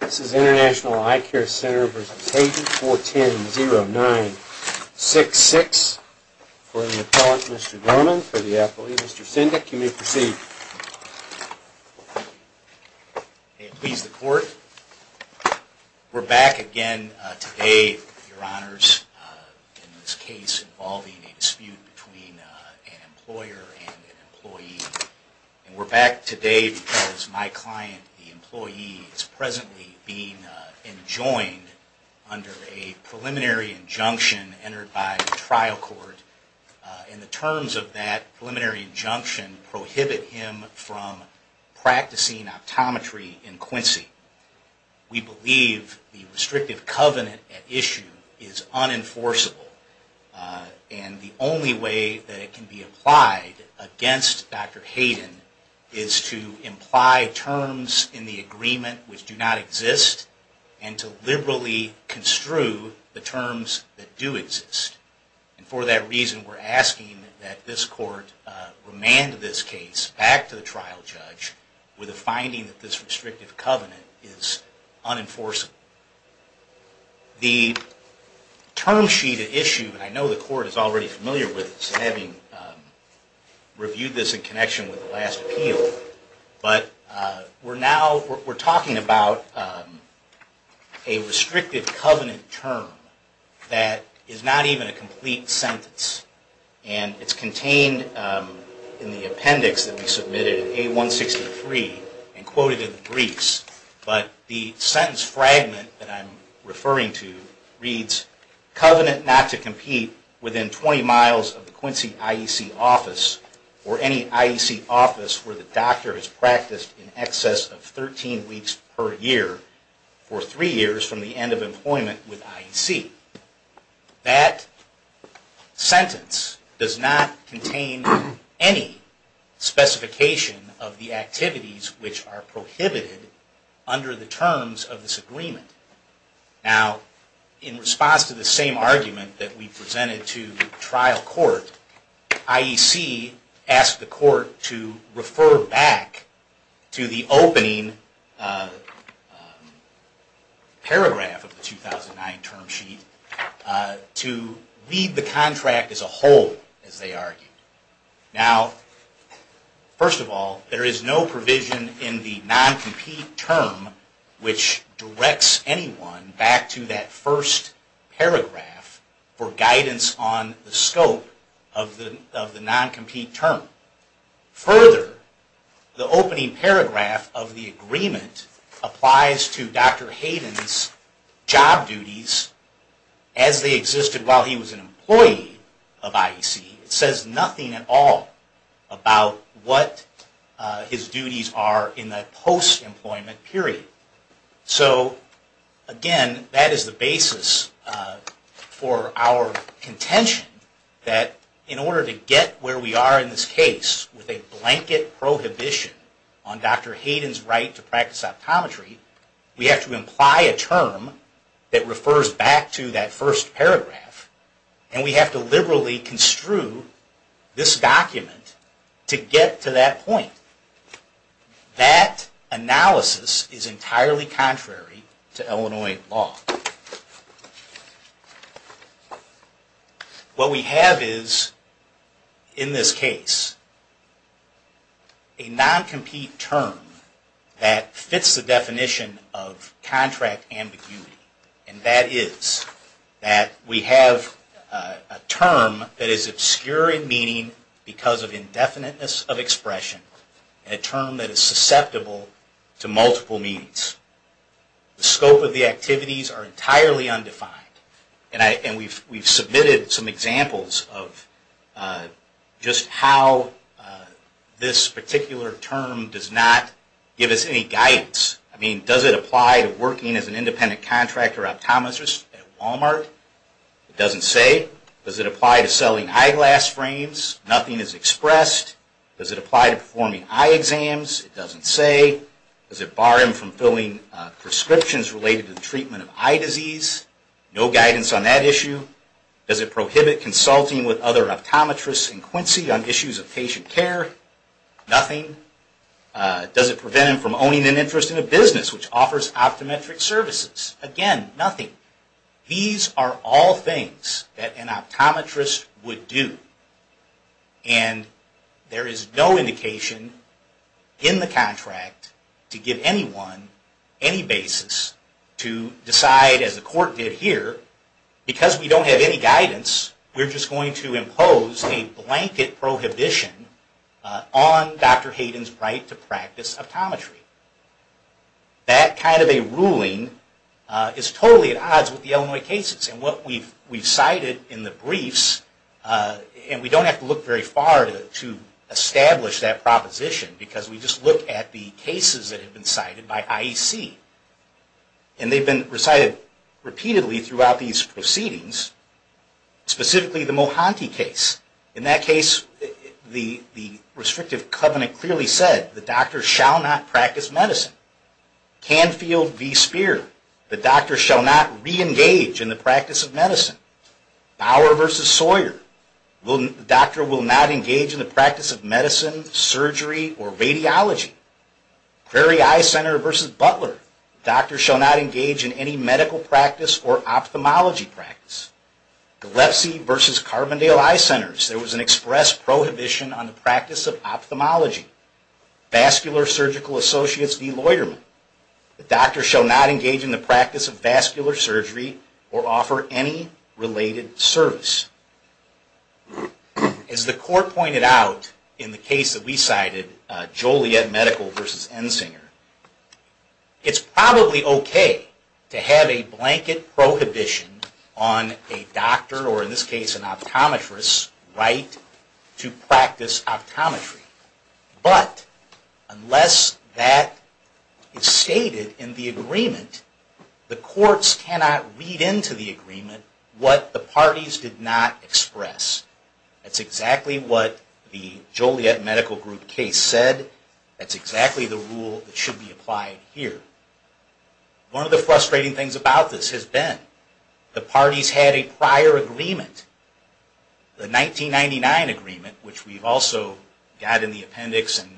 This is International Eyecare Center v. Hayden, 410-0966. For the appellant, Mr. Dorman, for the appellee, Mr. Sendak, you may proceed. May it please the Court, we're back again today, Your Honors, in this case involving a dispute between an employer and an employee. We're back today because my client, the employee, is presently being enjoined under a preliminary injunction entered by the trial court. And the terms of that preliminary injunction prohibit him from practicing optometry in Quincy. We believe the restrictive covenant at issue is unenforceable. And the only way that it can be applied against Dr. Hayden is to imply terms in the agreement which do not exist and to liberally construe the terms that do exist. And for that reason, we're asking that this Court remand this case back to the trial judge with a finding that this restrictive covenant is unenforceable. The term sheet at issue, and I know the Court is already familiar with this, having reviewed this in connection with the last appeal, but we're now, we're talking about a restrictive covenant term that is not even a complete sentence. And it's contained in the appendix that we submitted in A163 and quoted in the briefs. But the sentence fragment that I'm referring to reads, covenant not to compete within 20 miles of the Quincy IEC office or any IEC office where the doctor has practiced in excess of 13 weeks per year for three years from the end of employment with IEC. That sentence does not contain any specification of the activities which are prohibited under the terms of this agreement. Now, in response to the same argument that we presented to trial court, IEC asked the Court to refer back to the opening paragraph of the 2009 term sheet to leave the contract as a whole, as they argued. Now, first of all, there is no provision in the non-compete term which directs back to that first paragraph for guidance on the scope of the non-compete term. Further, the opening paragraph of the agreement applies to Dr. Hayden's job duties as they existed while he was an employee of IEC. It says nothing at all about what his duties are in the post-employment period. So again, that is the basis for our contention that in order to get where we are in this case with a blanket prohibition on Dr. Hayden's right to practice optometry, we have to imply a term that refers back to that first paragraph and we have to liberally construe this document to get to that point. That analysis is entirely contrary to Illinois law. What we have is, in this case, a non-compete term that fits the definition of contract ambiguity, and that is that we have a term that is obscure in meaning because of indefiniteness of expression, a term that is susceptible to multiple means. The scope of the activities are entirely undefined, and we've submitted some examples of just how this particular term does not give us any guidance. I mean, does it apply to working as an independent contractor optometrist at Walmart? It doesn't say. Does it apply to selling eyeglass frames? Nothing is expressed. Does it apply to performing eye exams? It doesn't say. Does it bar him from filling prescriptions related to the treatment of eye disease? No guidance on that issue. Does it prohibit consulting with other optometrists in Quincy on issues of patient care? Nothing. Does it prevent him from owning an interest in a business which offers optometric services? Again, nothing. These are all things that an optometrist would do, and there is no indication in the contract to give anyone any basis to decide, as the Court did here, because we don't have any guidance, we're just going to prohibition on Dr. Hayden's right to practice optometry. That kind of a ruling is totally at odds with the Illinois cases, and what we've cited in the briefs, and we don't have to look very far to establish that proposition, because we just look at the cases that have been cited by IEC. And they've been recited repeatedly throughout these proceedings, specifically the restrictive covenant clearly said, the doctor shall not practice medicine. Canfield v. Spear, the doctor shall not re-engage in the practice of medicine. Bower v. Sawyer, the doctor will not engage in the practice of medicine, surgery, or radiology. Prairie Eye Center v. Butler, the doctor shall not engage in any medical practice or ophthalmology practice. Gilepsy v. Carbondale Eye Centers, there was an express prohibition on the practice of ophthalmology. Vascular Surgical Associates v. Loiterman, the doctor shall not engage in the practice of vascular surgery or offer any related service. As the Court pointed out, in the case that we cited, Joliet Medical v. Ensinger, it's probably okay to have a blanket prohibition on a doctor, or in this case an optometrist's right to practice optometry. But unless that is stated in the agreement, the courts cannot read into the agreement what the parties did not express. That's exactly what the Joliet Medical Group case said. That's exactly the rule that should be applied here. One of the frustrating things about this has been the parties had a prior agreement, the 1999 agreement, which we've also got in the appendix and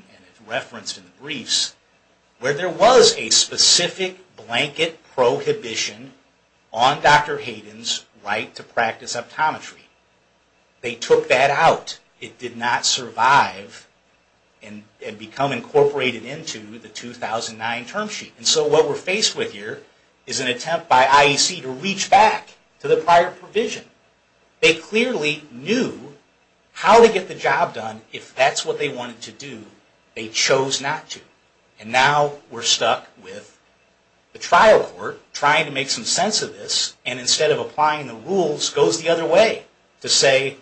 referenced in the briefs, where there was a specific blanket prohibition on Dr. Hayden's right to practice optometry. They took that out. It did not survive and become incorporated into the 2009 term sheet. And so what we're faced with here is an attempt by IEC to reach back to the prior provision. They clearly knew how to get the job done if that's what they wanted to do. They chose not to. And now we're stuck with the trial court trying to make some sense of this, and instead of applying the rules, goes the other way to say,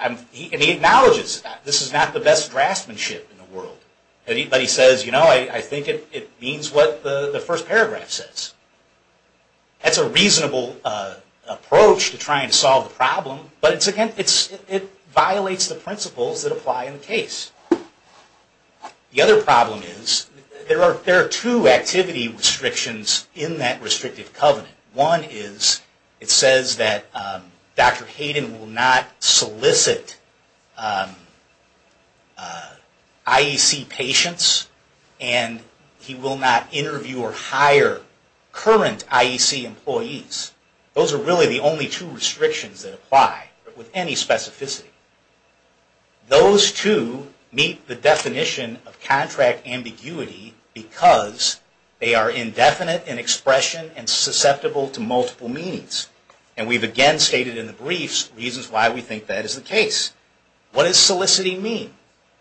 and he acknowledges that this is not the best draftsmanship in the world. But he says, you know, I think it means what the first paragraph says. That's a reasonable approach to trying to solve the problem, but it violates the principles that apply in the case. The other problem is there are two activity restrictions in that restrictive covenant. One is it says that Dr. Hayden will not solicit IEC patients and he will not interview or hire current IEC employees. Those are really the only two restrictions that apply with any specificity. Those two meet the definition of contract ambiguity because they are indefinite in expression and susceptible to multiple means. And we've again stated in the briefs reasons why we think that is the case. What does soliciting mean?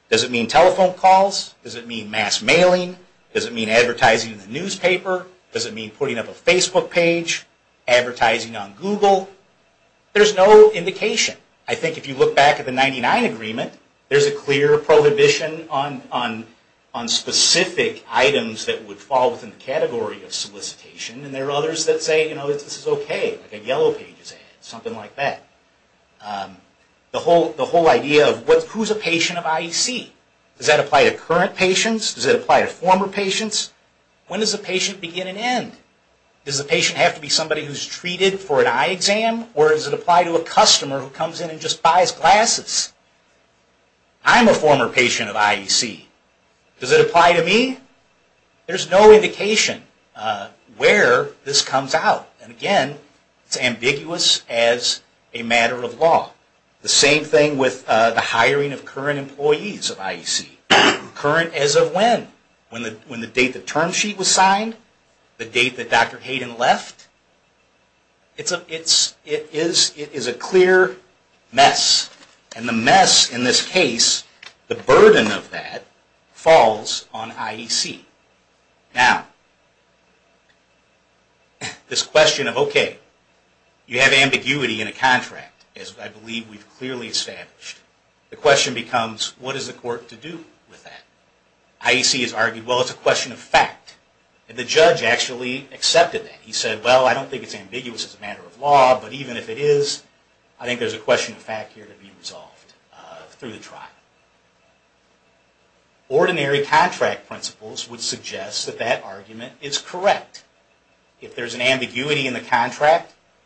Does it mean telephone calls? Does it mean mass mailing? Does it mean advertising in the newspaper? Does it mean putting up a Facebook page? Advertising on Google? There's no indication. I think if you look back at the 1999 agreement, there's a clear prohibition on specific items that would fall within the category of solicitation. And there are others that say, you know, this is okay, like a Yellow Pages ad, something like that. The whole idea of who's a patient of IEC? Does that apply to current patients? Does it apply to former patients? When does a patient begin and end? Does the patient have to be There's no indication where this comes out. And again, it's ambiguous as a matter of law. The same thing with the hiring of current employees of IEC. Current as of when? When the date the term sheet was signed? The date that Dr. Hayden left? It is a clear mess. And the mess in this case, the burden of that, falls on IEC. Now, this question of, okay, you have ambiguity in a contract, as I believe we've clearly established. The question becomes, what is the court to do with that? IEC has argued, well, it's a question of fact. And the judge actually accepted that. He said, well, I don't think it's ambiguous as a matter of law, but even if it is, I think there's a question of fact here to be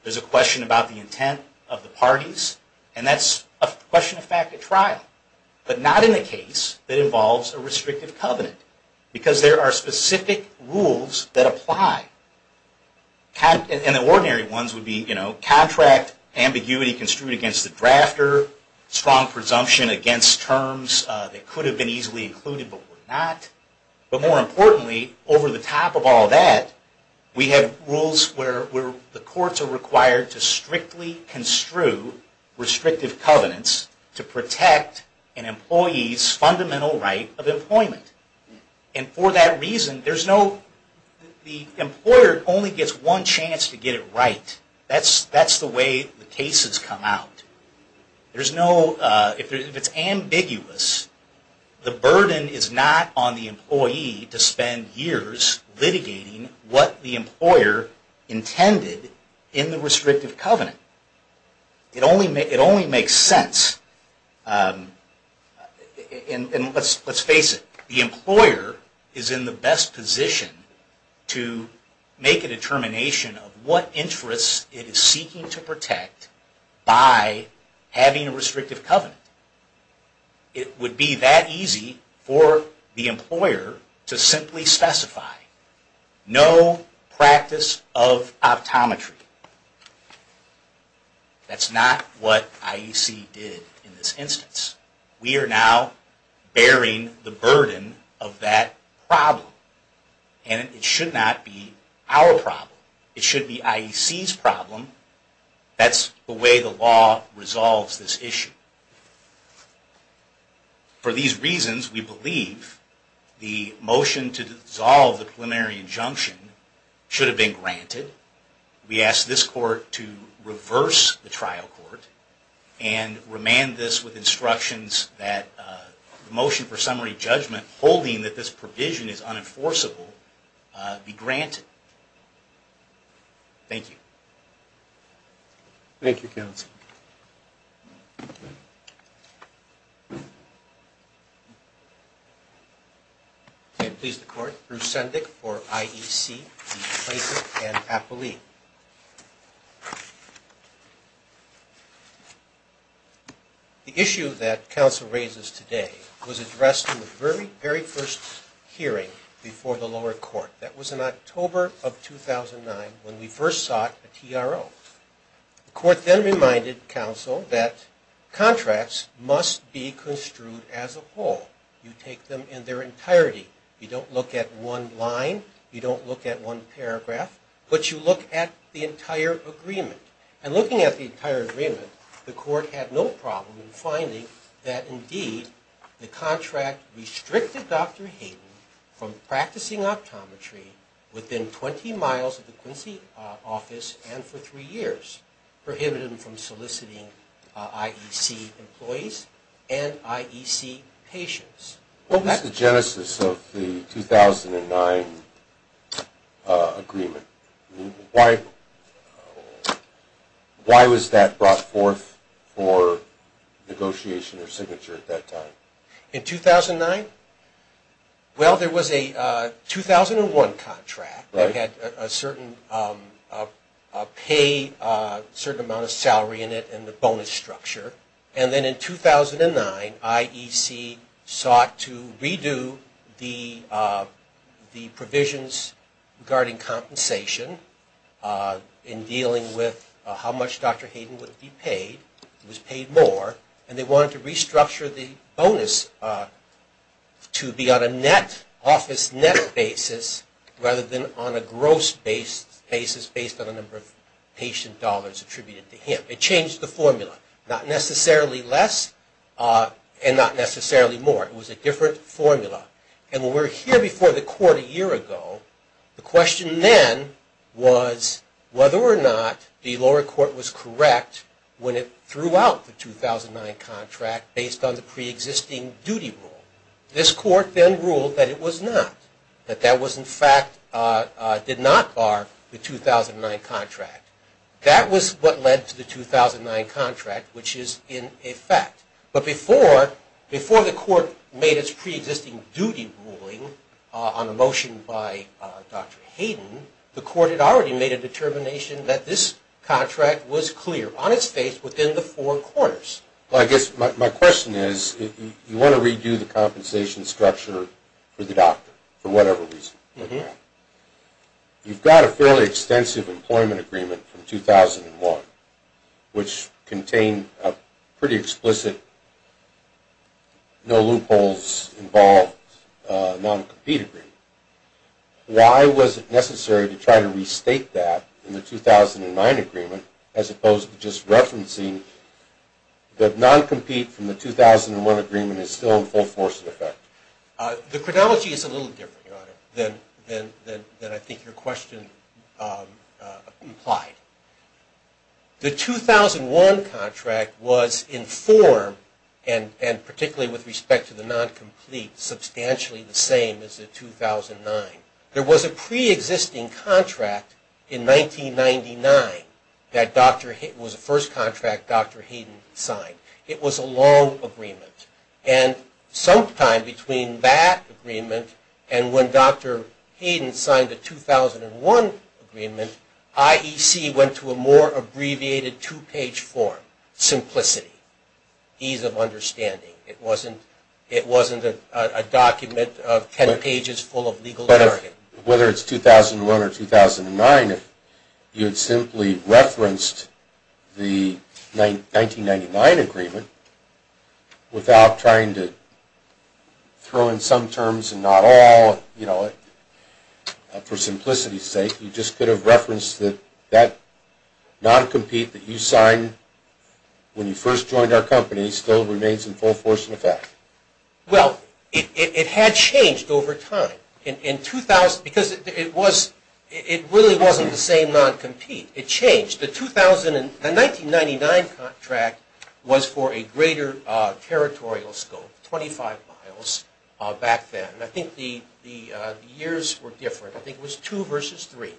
There's a question about the intent of the parties. And that's a question of fact at trial. But not in a case that involves a restrictive covenant. Because there are specific rules that apply. And the ordinary ones would be, you know, contract ambiguity construed against the drafter, strong presumption against terms that could have been easily included, but were not. But more importantly, over the top of all that, we have rules where the courts are required to strictly construe restrictive covenants to protect an employee's fundamental right of employment. And for that reason, the employer only gets one chance to get it right. That's the way the cases come out. If it's ambiguous, the burden is not on the employee to spend years litigating what the employer intended in the restrictive covenant. It only makes sense. And let's face it, the having a restrictive covenant, it would be that easy for the employer to simply specify, no practice of optometry. That's not what IEC did in this instance. We are now bearing the burden of that problem. And it should not be our problem. It should be IEC's problem. That's the way the law resolves this issue. For these reasons, we believe the motion to dissolve the preliminary injunction should have been granted. We ask this court to reverse the trial court and remand this with instructions that the motion for The issue that counsel raises today was addressed in the very, very first hearing before the lower court. That was in October of 2009 when we first sought a TRO. The court then reminded counsel that contracts must be construed as a whole. You take them in their entirety. You don't look at one line. You don't look at one paragraph. But you look at the entire agreement. And looking at the entire agreement, the court had no problem in finding that indeed the contract restricted Dr. Hayden from practicing optometry within 20 miles of the Quincy office and for three years, prohibited him from soliciting IEC employees and IEC patients. What was the genesis of the 2009 agreement? Why was that brought forth for negotiation or signature at that time? In 2009? Well, there was a 2001 contract that had a certain pay, a certain amount of salary in it and the bonus structure. And then in 2009, IEC sought to redo the provisions regarding compensation in dealing with how much Dr. Hayden would be paid. He was paid more and they wanted to restructure the bonus to be on a net, office net basis rather than on a gross basis based on the number of patient dollars attributed to him. It changed the formula. Not necessarily less and not necessarily more. It was a different formula. And when we were here before the court a year ago, the question then was whether or not the lower court was correct when it threw out the 2009 contract based on the pre-existing duty rule. This court then ruled that it was not, that that was in fact did not bar the 2009 contract. That was what led to the 2009 contract, which is in effect. But before the court made its pre-existing duty ruling on a motion by Dr. Hayden, the court had already made a determination that this contract was clear on its face within the four corners. Well, I guess my question is, you want to redo the compensation structure for the doctor for whatever reason. You've got a fairly extensive employment agreement from 2001, which contained a pretty explicit no loopholes involved non-compete agreement. Why was it necessary to try to restate that in the 2009 agreement as opposed to just referencing that non-compete from the 2001 agreement is still in full force in effect? The chronology is a little different, Your Honor, than I think your question implied. The 2001 contract was in form, and particularly with respect to the non-complete, substantially the same as the 2009. There was a pre-existing contract in 1999 that was the first contract Dr. Hayden signed. It was a long agreement. And sometime between that agreement and when Dr. Hayden signed the 2001 agreement, IEC went to a more abbreviated two-page form, simplicity, ease of understanding. It wasn't a document of ten pages full of legal jargon. Well, it had changed over time. Because it really wasn't the same non-compete. It changed. The 1999 contract was for a greater territorial scope, 25 miles back then. I think the years were different. I think it was two versus three.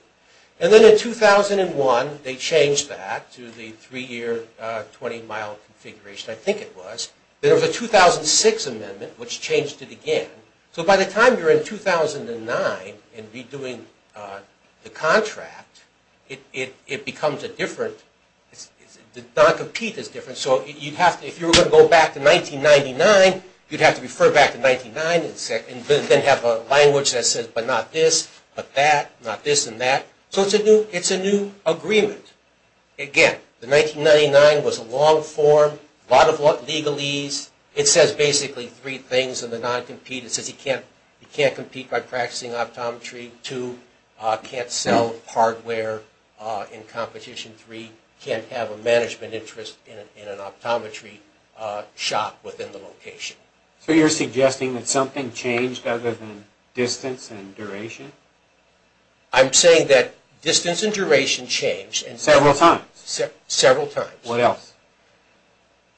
And then in 2001, they changed that to the three-year, 20-mile configuration, I think it was. There was a 2006 amendment, which changed it again. So by the time you're in 2009 and redoing the contract, it becomes a different, the non-compete is different. So if you were going to go back to 1999, you'd have to refer back to 1999 and then have a language that says, but not this, but that, not this and that. So it's a new agreement. Again, the 1999 was a long form, a lot of legal ease. It says basically three things in the non-compete. It says you can't compete by practicing optometry. Two, can't sell hardware in competition. Three, can't have a management interest in an optometry shop within the location. So you're suggesting that something changed other than distance and duration? I'm saying that distance and duration changed. Several times? Several times. What else?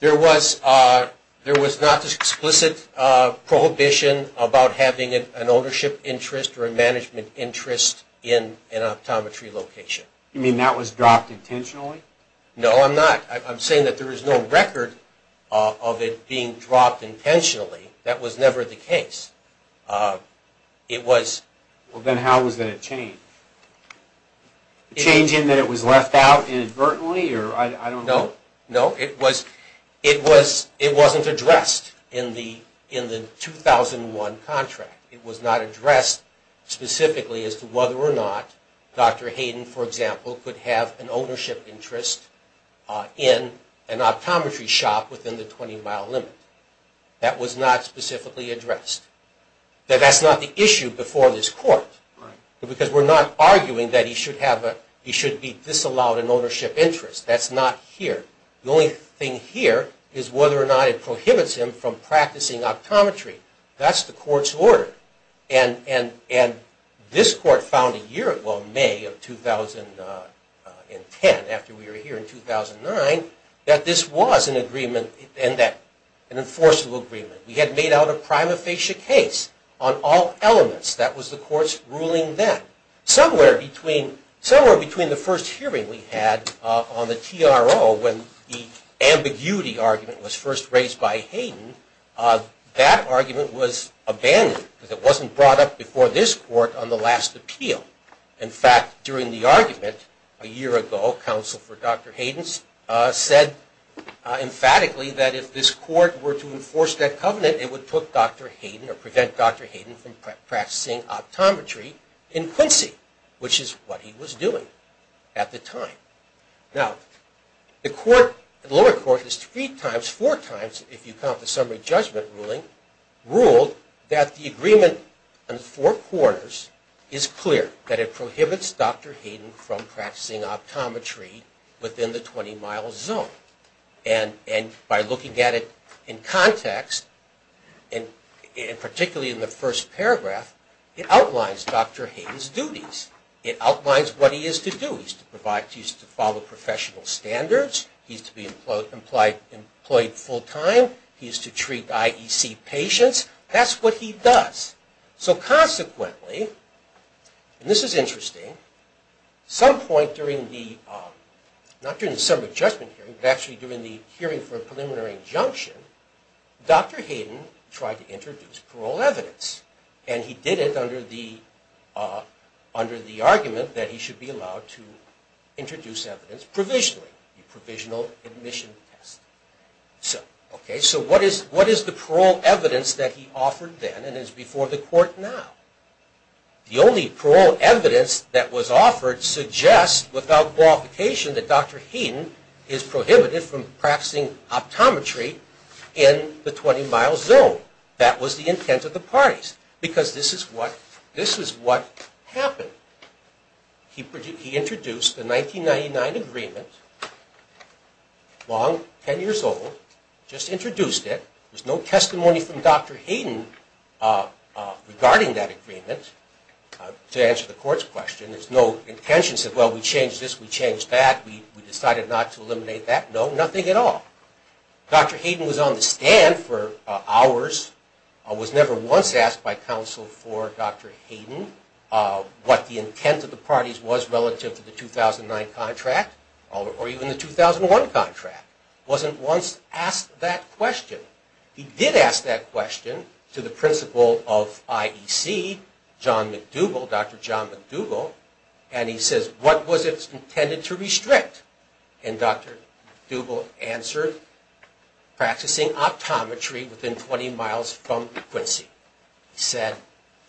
There was not an explicit prohibition about having an ownership interest or a management interest in an optometry location. You mean that was dropped intentionally? No, I'm not. I'm saying that there is no record of it being dropped intentionally. That was never the case. It was... Then how was it changed? The change in that it was left out inadvertently? No, no. It wasn't addressed in the 2001 contract. It was not addressed specifically as to whether or not Dr. Hayden, for example, could have an ownership interest in an optometry shop within the 20-mile limit. That was not specifically addressed. That's not the issue before this Court. Right. Because we're not arguing that he should be disallowed an ownership interest. That's not here. The only thing here is whether or not it prohibits him from practicing optometry. That's the Court's order. And this Court found a year ago, May of 2010, after we were here in 2009, that this was an enforceable agreement. We had made out a prima facie case on all elements. That was the Court's ruling then. Somewhere between the first hearing we had on the TRO when the ambiguity argument was first raised by Hayden, that argument was abandoned because it wasn't brought up before this Court on the last appeal. In fact, during the argument a year ago, counsel for Dr. Hayden said emphatically that if this Court were to enforce that covenant, it would prevent Dr. Hayden from practicing optometry in Quincy, which is what he was doing at the time. Now, the lower court has three times, four times, if you count the summary judgment ruling, ruled that the agreement on the four corners is clear, that it prohibits Dr. Hayden from practicing optometry within the 20-mile zone. And by looking at it in context, particularly in the first paragraph, it outlines Dr. Hayden's duties. It outlines what he is to do. He's to follow professional standards. He's to be employed full-time. He's to treat IEC patients. That's what he does. So consequently, and this is interesting, some point during the, not during the summary judgment hearing, but actually during the hearing for a preliminary injunction, Dr. Hayden tried to introduce parole evidence. And he did it under the argument that he should be allowed to introduce evidence provisionally, the provisional admission test. Okay, so what is the parole evidence that he offered then and is before the Court now? The only parole evidence that was offered suggests, without qualification, that Dr. Hayden is prohibited from practicing optometry in the 20-mile zone. That was the intent of the parties, because this is what, this is what happened. He introduced the 1999 agreement, long, 10 years old, just introduced it. There's no testimony from Dr. Hayden regarding that agreement. To answer the Court's question, there's no intention to say, well, we changed this, we changed that, we decided not to eliminate that. No, nothing at all. Dr. Hayden was on the stand for hours, was never once asked by counsel for Dr. Hayden what the intent of the parties was relative to the 2009 contract, or even the 2001 contract. Wasn't once asked that question. He did ask that question to the principal of IEC, John McDougall, Dr. John McDougall, and he says, what was it intended to restrict? And Dr. McDougall answered, practicing optometry within 20 miles from Quincy. He said,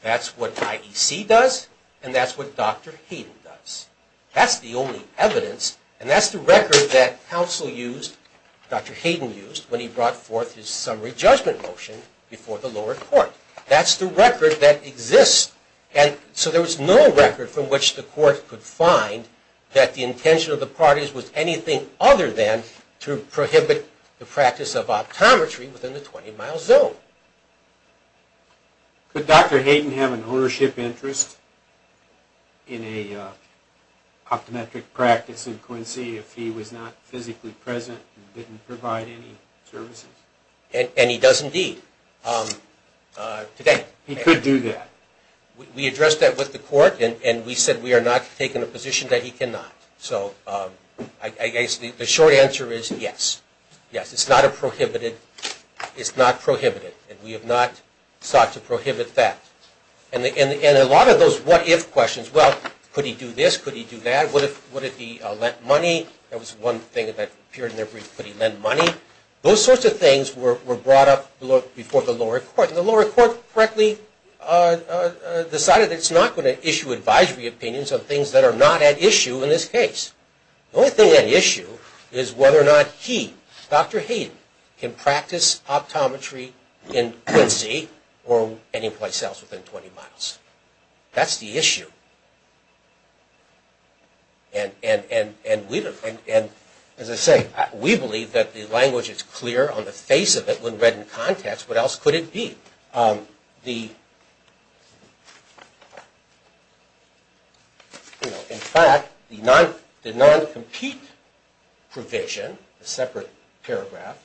that's what IEC does, and that's what Dr. Hayden does. That's the only evidence, and that's the record that counsel used, Dr. Hayden used, when he brought forth his summary judgment motion before the lower court. That's the record that exists, and so there was no record from which the Court could find that the intention of the parties was anything other than to prohibit the practice of optometry within the 20 mile zone. Could Dr. Hayden have an ownership interest in a optometric practice in Quincy if he was not physically present and didn't provide any services? And he does indeed today. He could do that. We addressed that with the Court, and we said we are not taking a position that he cannot. So I guess the short answer is yes. Yes, it's not a prohibited, it's not prohibited, and we have not sought to prohibit that. And a lot of those what if questions, well, could he do this, could he do that, would he lend money? That was one thing that appeared in their brief, could he lend money? Those sorts of things were brought up before the lower court, and the lower court correctly decided it's not going to issue advisory opinions on things that are not at issue in this case. The only thing at issue is whether or not he, Dr. Hayden, can practice optometry in Quincy or anyplace else within 20 miles. That's the issue. And as I say, we believe that the language is clear on the face of it when read in context. What else could it be? In fact, the non-compete provision, a separate paragraph,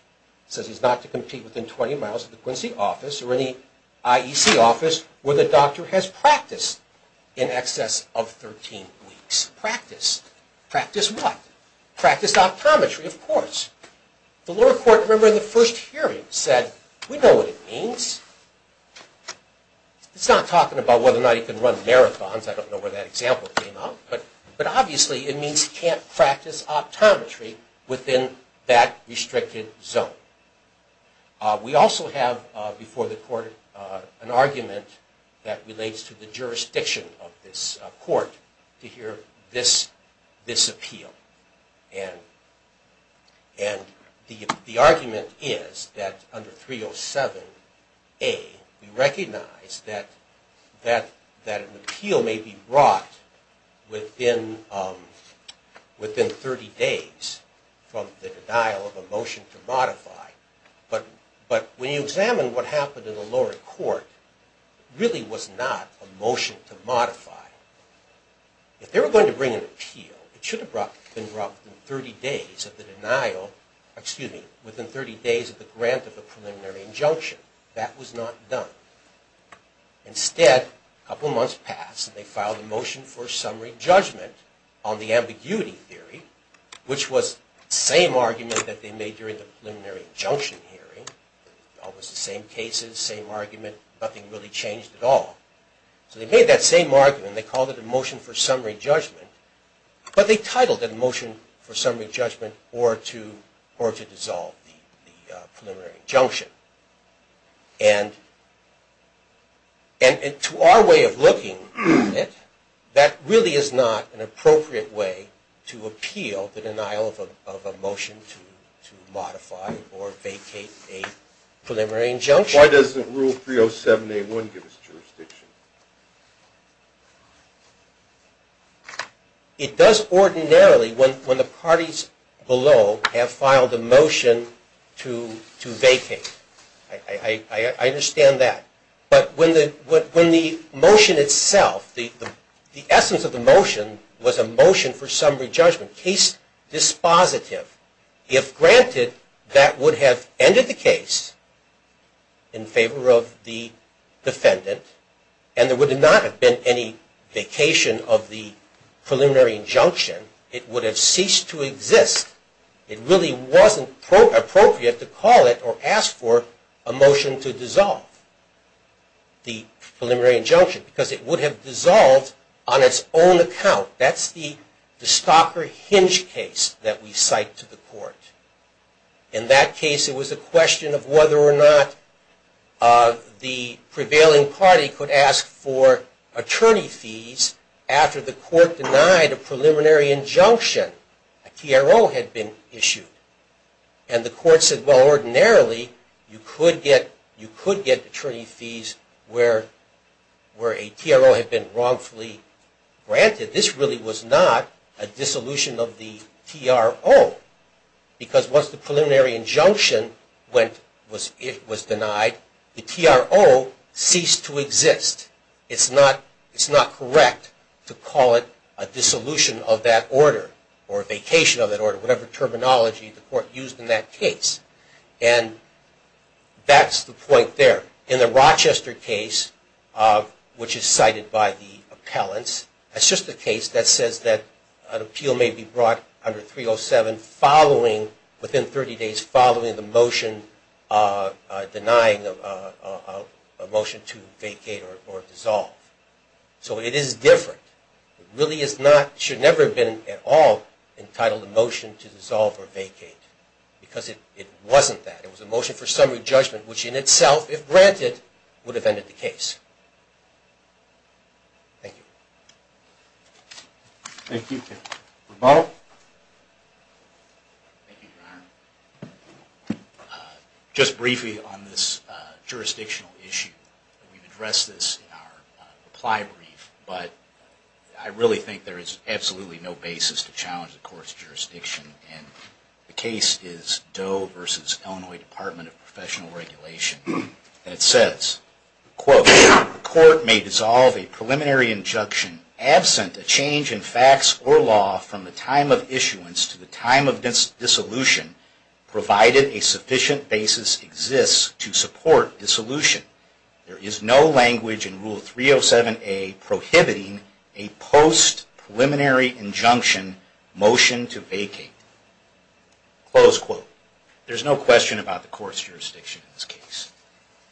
says he's not to compete within 20 miles of the Quincy office or any IEC office where the doctor has practiced in excess of 13 weeks. Practice. Practice what? Practice optometry, of course. The lower court, remember, in the first hearing said, we know what it means. It's not talking about whether or not he can run marathons, I don't know where that example came up, but obviously it means he can't practice optometry within that restricted zone. We also have before the court an argument that relates to the jurisdiction of this court to hear this appeal. And the argument is that under 307A, we recognize that an appeal may be brought within 30 days from the denial of a motion to modify. But when you examine what happened in the lower court, it really was not a motion to modify. If they were going to bring an appeal, it should have been brought within 30 days of the denial, excuse me, within 30 days of the grant of the preliminary injunction. That was not done. Instead, a couple months passed and they filed a motion for summary judgment on the ambiguity theory, which was the same argument that they made during the preliminary injunction hearing. Almost the same cases, same argument, nothing really changed at all. So they made that same argument, they called it a motion for summary judgment, but they titled it a motion for summary judgment or to dissolve the preliminary injunction. And to our way of looking at it, that really is not an appropriate way to appeal the denial of a motion to modify or vacate a preliminary injunction. Why doesn't Rule 307A1 give us jurisdiction? It does ordinarily when the parties below have filed a motion to vacate. I understand that. But when the motion itself, the essence of the motion was a motion for summary judgment, case dispositive, if granted, that would have ended the case in favor of the defendant and there would not have been any vacation of the preliminary injunction. It would have ceased to exist. It really wasn't appropriate to call it or ask for a motion to dissolve the preliminary injunction because it would have dissolved on its own account. That's the stalker hinge case that we cite to the court. In that case, it was a question of whether or not the prevailing party could ask for attorney fees after the court denied a preliminary injunction, a TRO had been issued. And the court said, well, ordinarily you could get attorney fees where a TRO had been wrongfully granted. This really was not a dissolution of the TRO because once the preliminary injunction was denied, the TRO ceased to exist. It's not correct to call it a dissolution of that order or a vacation of that order, whatever terminology the court used in that case. And that's the point there. In the Rochester case, which is cited by the appellants, that's just the case that says that an appeal may be brought under 307 within 30 days following the motion denying a motion to vacate or dissolve. So it is different. It really should never have been at all entitled a motion to dissolve or vacate because it wasn't that. It was a motion for summary judgment, which in itself, if granted, would have ended the case. Thank you. Thank you. Rebuttal? Thank you, Your Honor. Just briefly on this jurisdictional issue, we've addressed this in our reply brief, but I really think there is absolutely no basis to challenge the court's jurisdiction. The case is Doe v. Illinois Department of Professional Regulation. It says, quote, the court may dissolve a preliminary injunction absent a change in facts or law from the time of issuance to the time of dissolution provided a sufficient basis exists to support dissolution. There is no language in Rule 307A prohibiting a post-preliminary injunction motion to vacate. Close quote. There's no question about the court's jurisdiction in this case.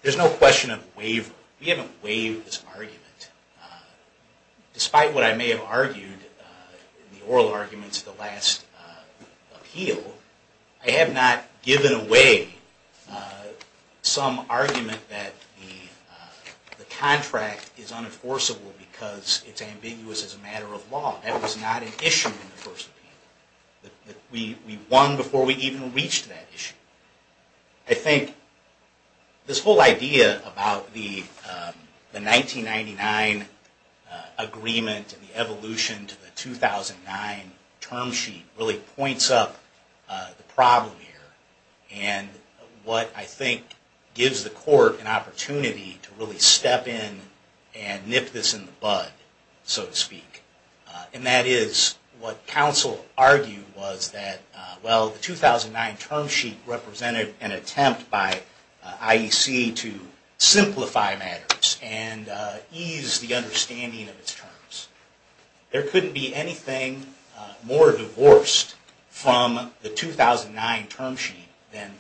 There's no question of waiver. We haven't waived this argument. Despite what I may have argued in the oral arguments of the last appeal, I have not given away some argument that the contract is unenforceable because it's ambiguous as a matter of law. That was not an issue in the first appeal. We won before we even reached that issue. I think this whole idea about the 1999 agreement and the evolution to the 2009 term sheet really points up the problem here. And what I think gives the court an opportunity to really step in and nip this in the bud, so to speak. And that is what counsel argued was that, well, the 2009 term sheet represented an attempt by IEC to simplify matters and ease the understanding of its terms. There couldn't be anything more divorced from the 2009 term sheet than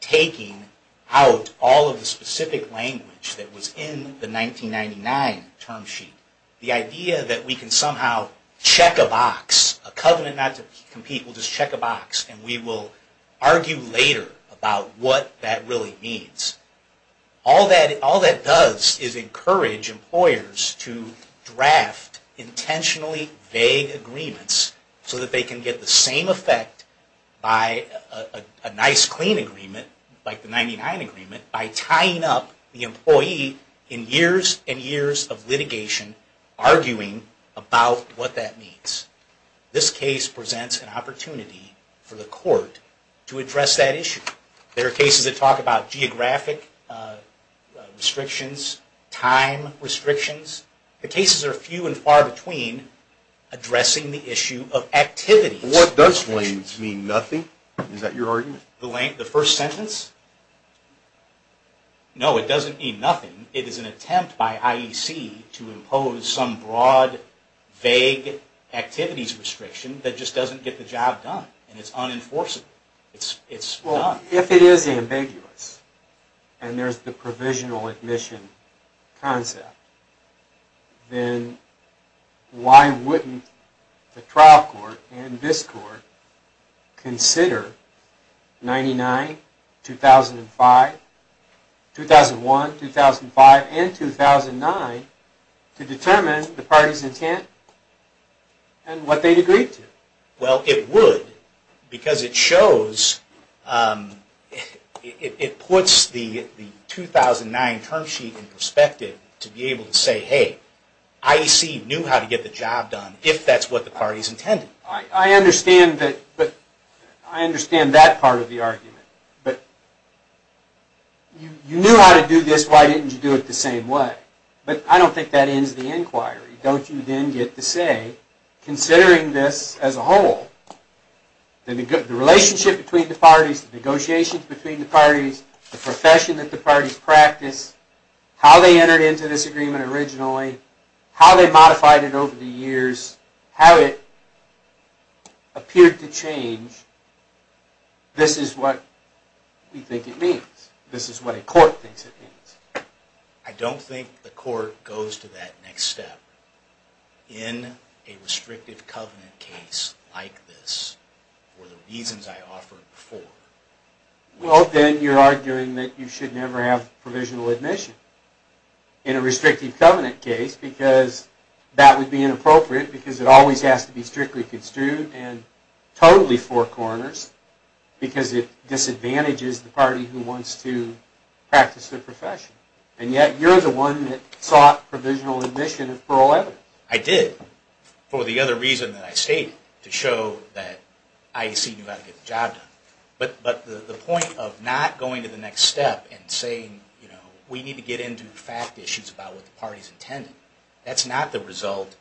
taking out all of the specific language that was in the 1999 term sheet. The idea that we can somehow check a box, a covenant not to compete, we'll just check a box and we will argue later about what that really means. All that does is encourage employers to draft intentionally vague agreements so that they can get the same effect by a nice clean agreement, like the 1999 agreement, by tying up the employee in years and years of litigation, arguing about what that means. This case presents an opportunity for the court to address that issue. There are cases that talk about geographic restrictions, time restrictions. The cases are few and far between addressing the issue of activities. What does means mean? Nothing? Is that your argument? The first sentence? No, it doesn't mean nothing. It is an attempt by IEC to impose some broad, vague activities restriction that just doesn't get the job done. It's unenforceable. If it is ambiguous and there's the provisional admission concept, then why wouldn't the trial court and this court consider 1999, 2005, 2001, 2005, and 2009 to determine the parties intent and what they'd agree to? Well, it would because it puts the 2009 term sheet in perspective to be able to say, hey, IEC knew how to get the job done if that's what the parties intended. I understand that part of the argument, but you knew how to do this, why didn't you do it the same way? But I don't think that ends the inquiry. Don't you then get to say, considering this as a whole, the relationship between the parties, the negotiations between the parties, the profession that the parties practice, how they entered into this agreement originally, how they modified it over the years, how it appeared to change, this is what we think it means. This is what a court thinks it means. I don't think the court goes to that next step in a restrictive covenant case like this for the reasons I offered before. Well, then you're arguing that you should never have provisional admission in a restrictive covenant case because that would be inappropriate because it always has to be strictly construed and totally four corners because it disadvantages the party who wants to practice their profession. And yet, you're the one that sought provisional admission for all evidence. I did, for the other reason that I stated, to show that I see you've got to get the job done. But the point of not going to the next step and saying we need to get into fact issues about what the party's intended, that's not the result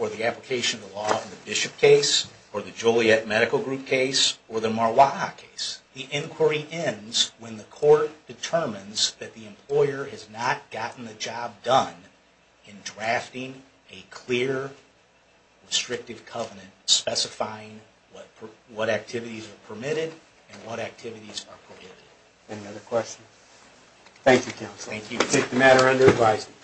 or the application of the law in the Bishop case or the Joliet Medical Group case or the Marwaha case. The inquiry ends when the court determines that the employer has not gotten the job done in drafting a clear restrictive covenant specifying what activities are permitted and what activities are prohibited. Any other questions? Thank you, Counsel. Thank you. We take the matter under advisory.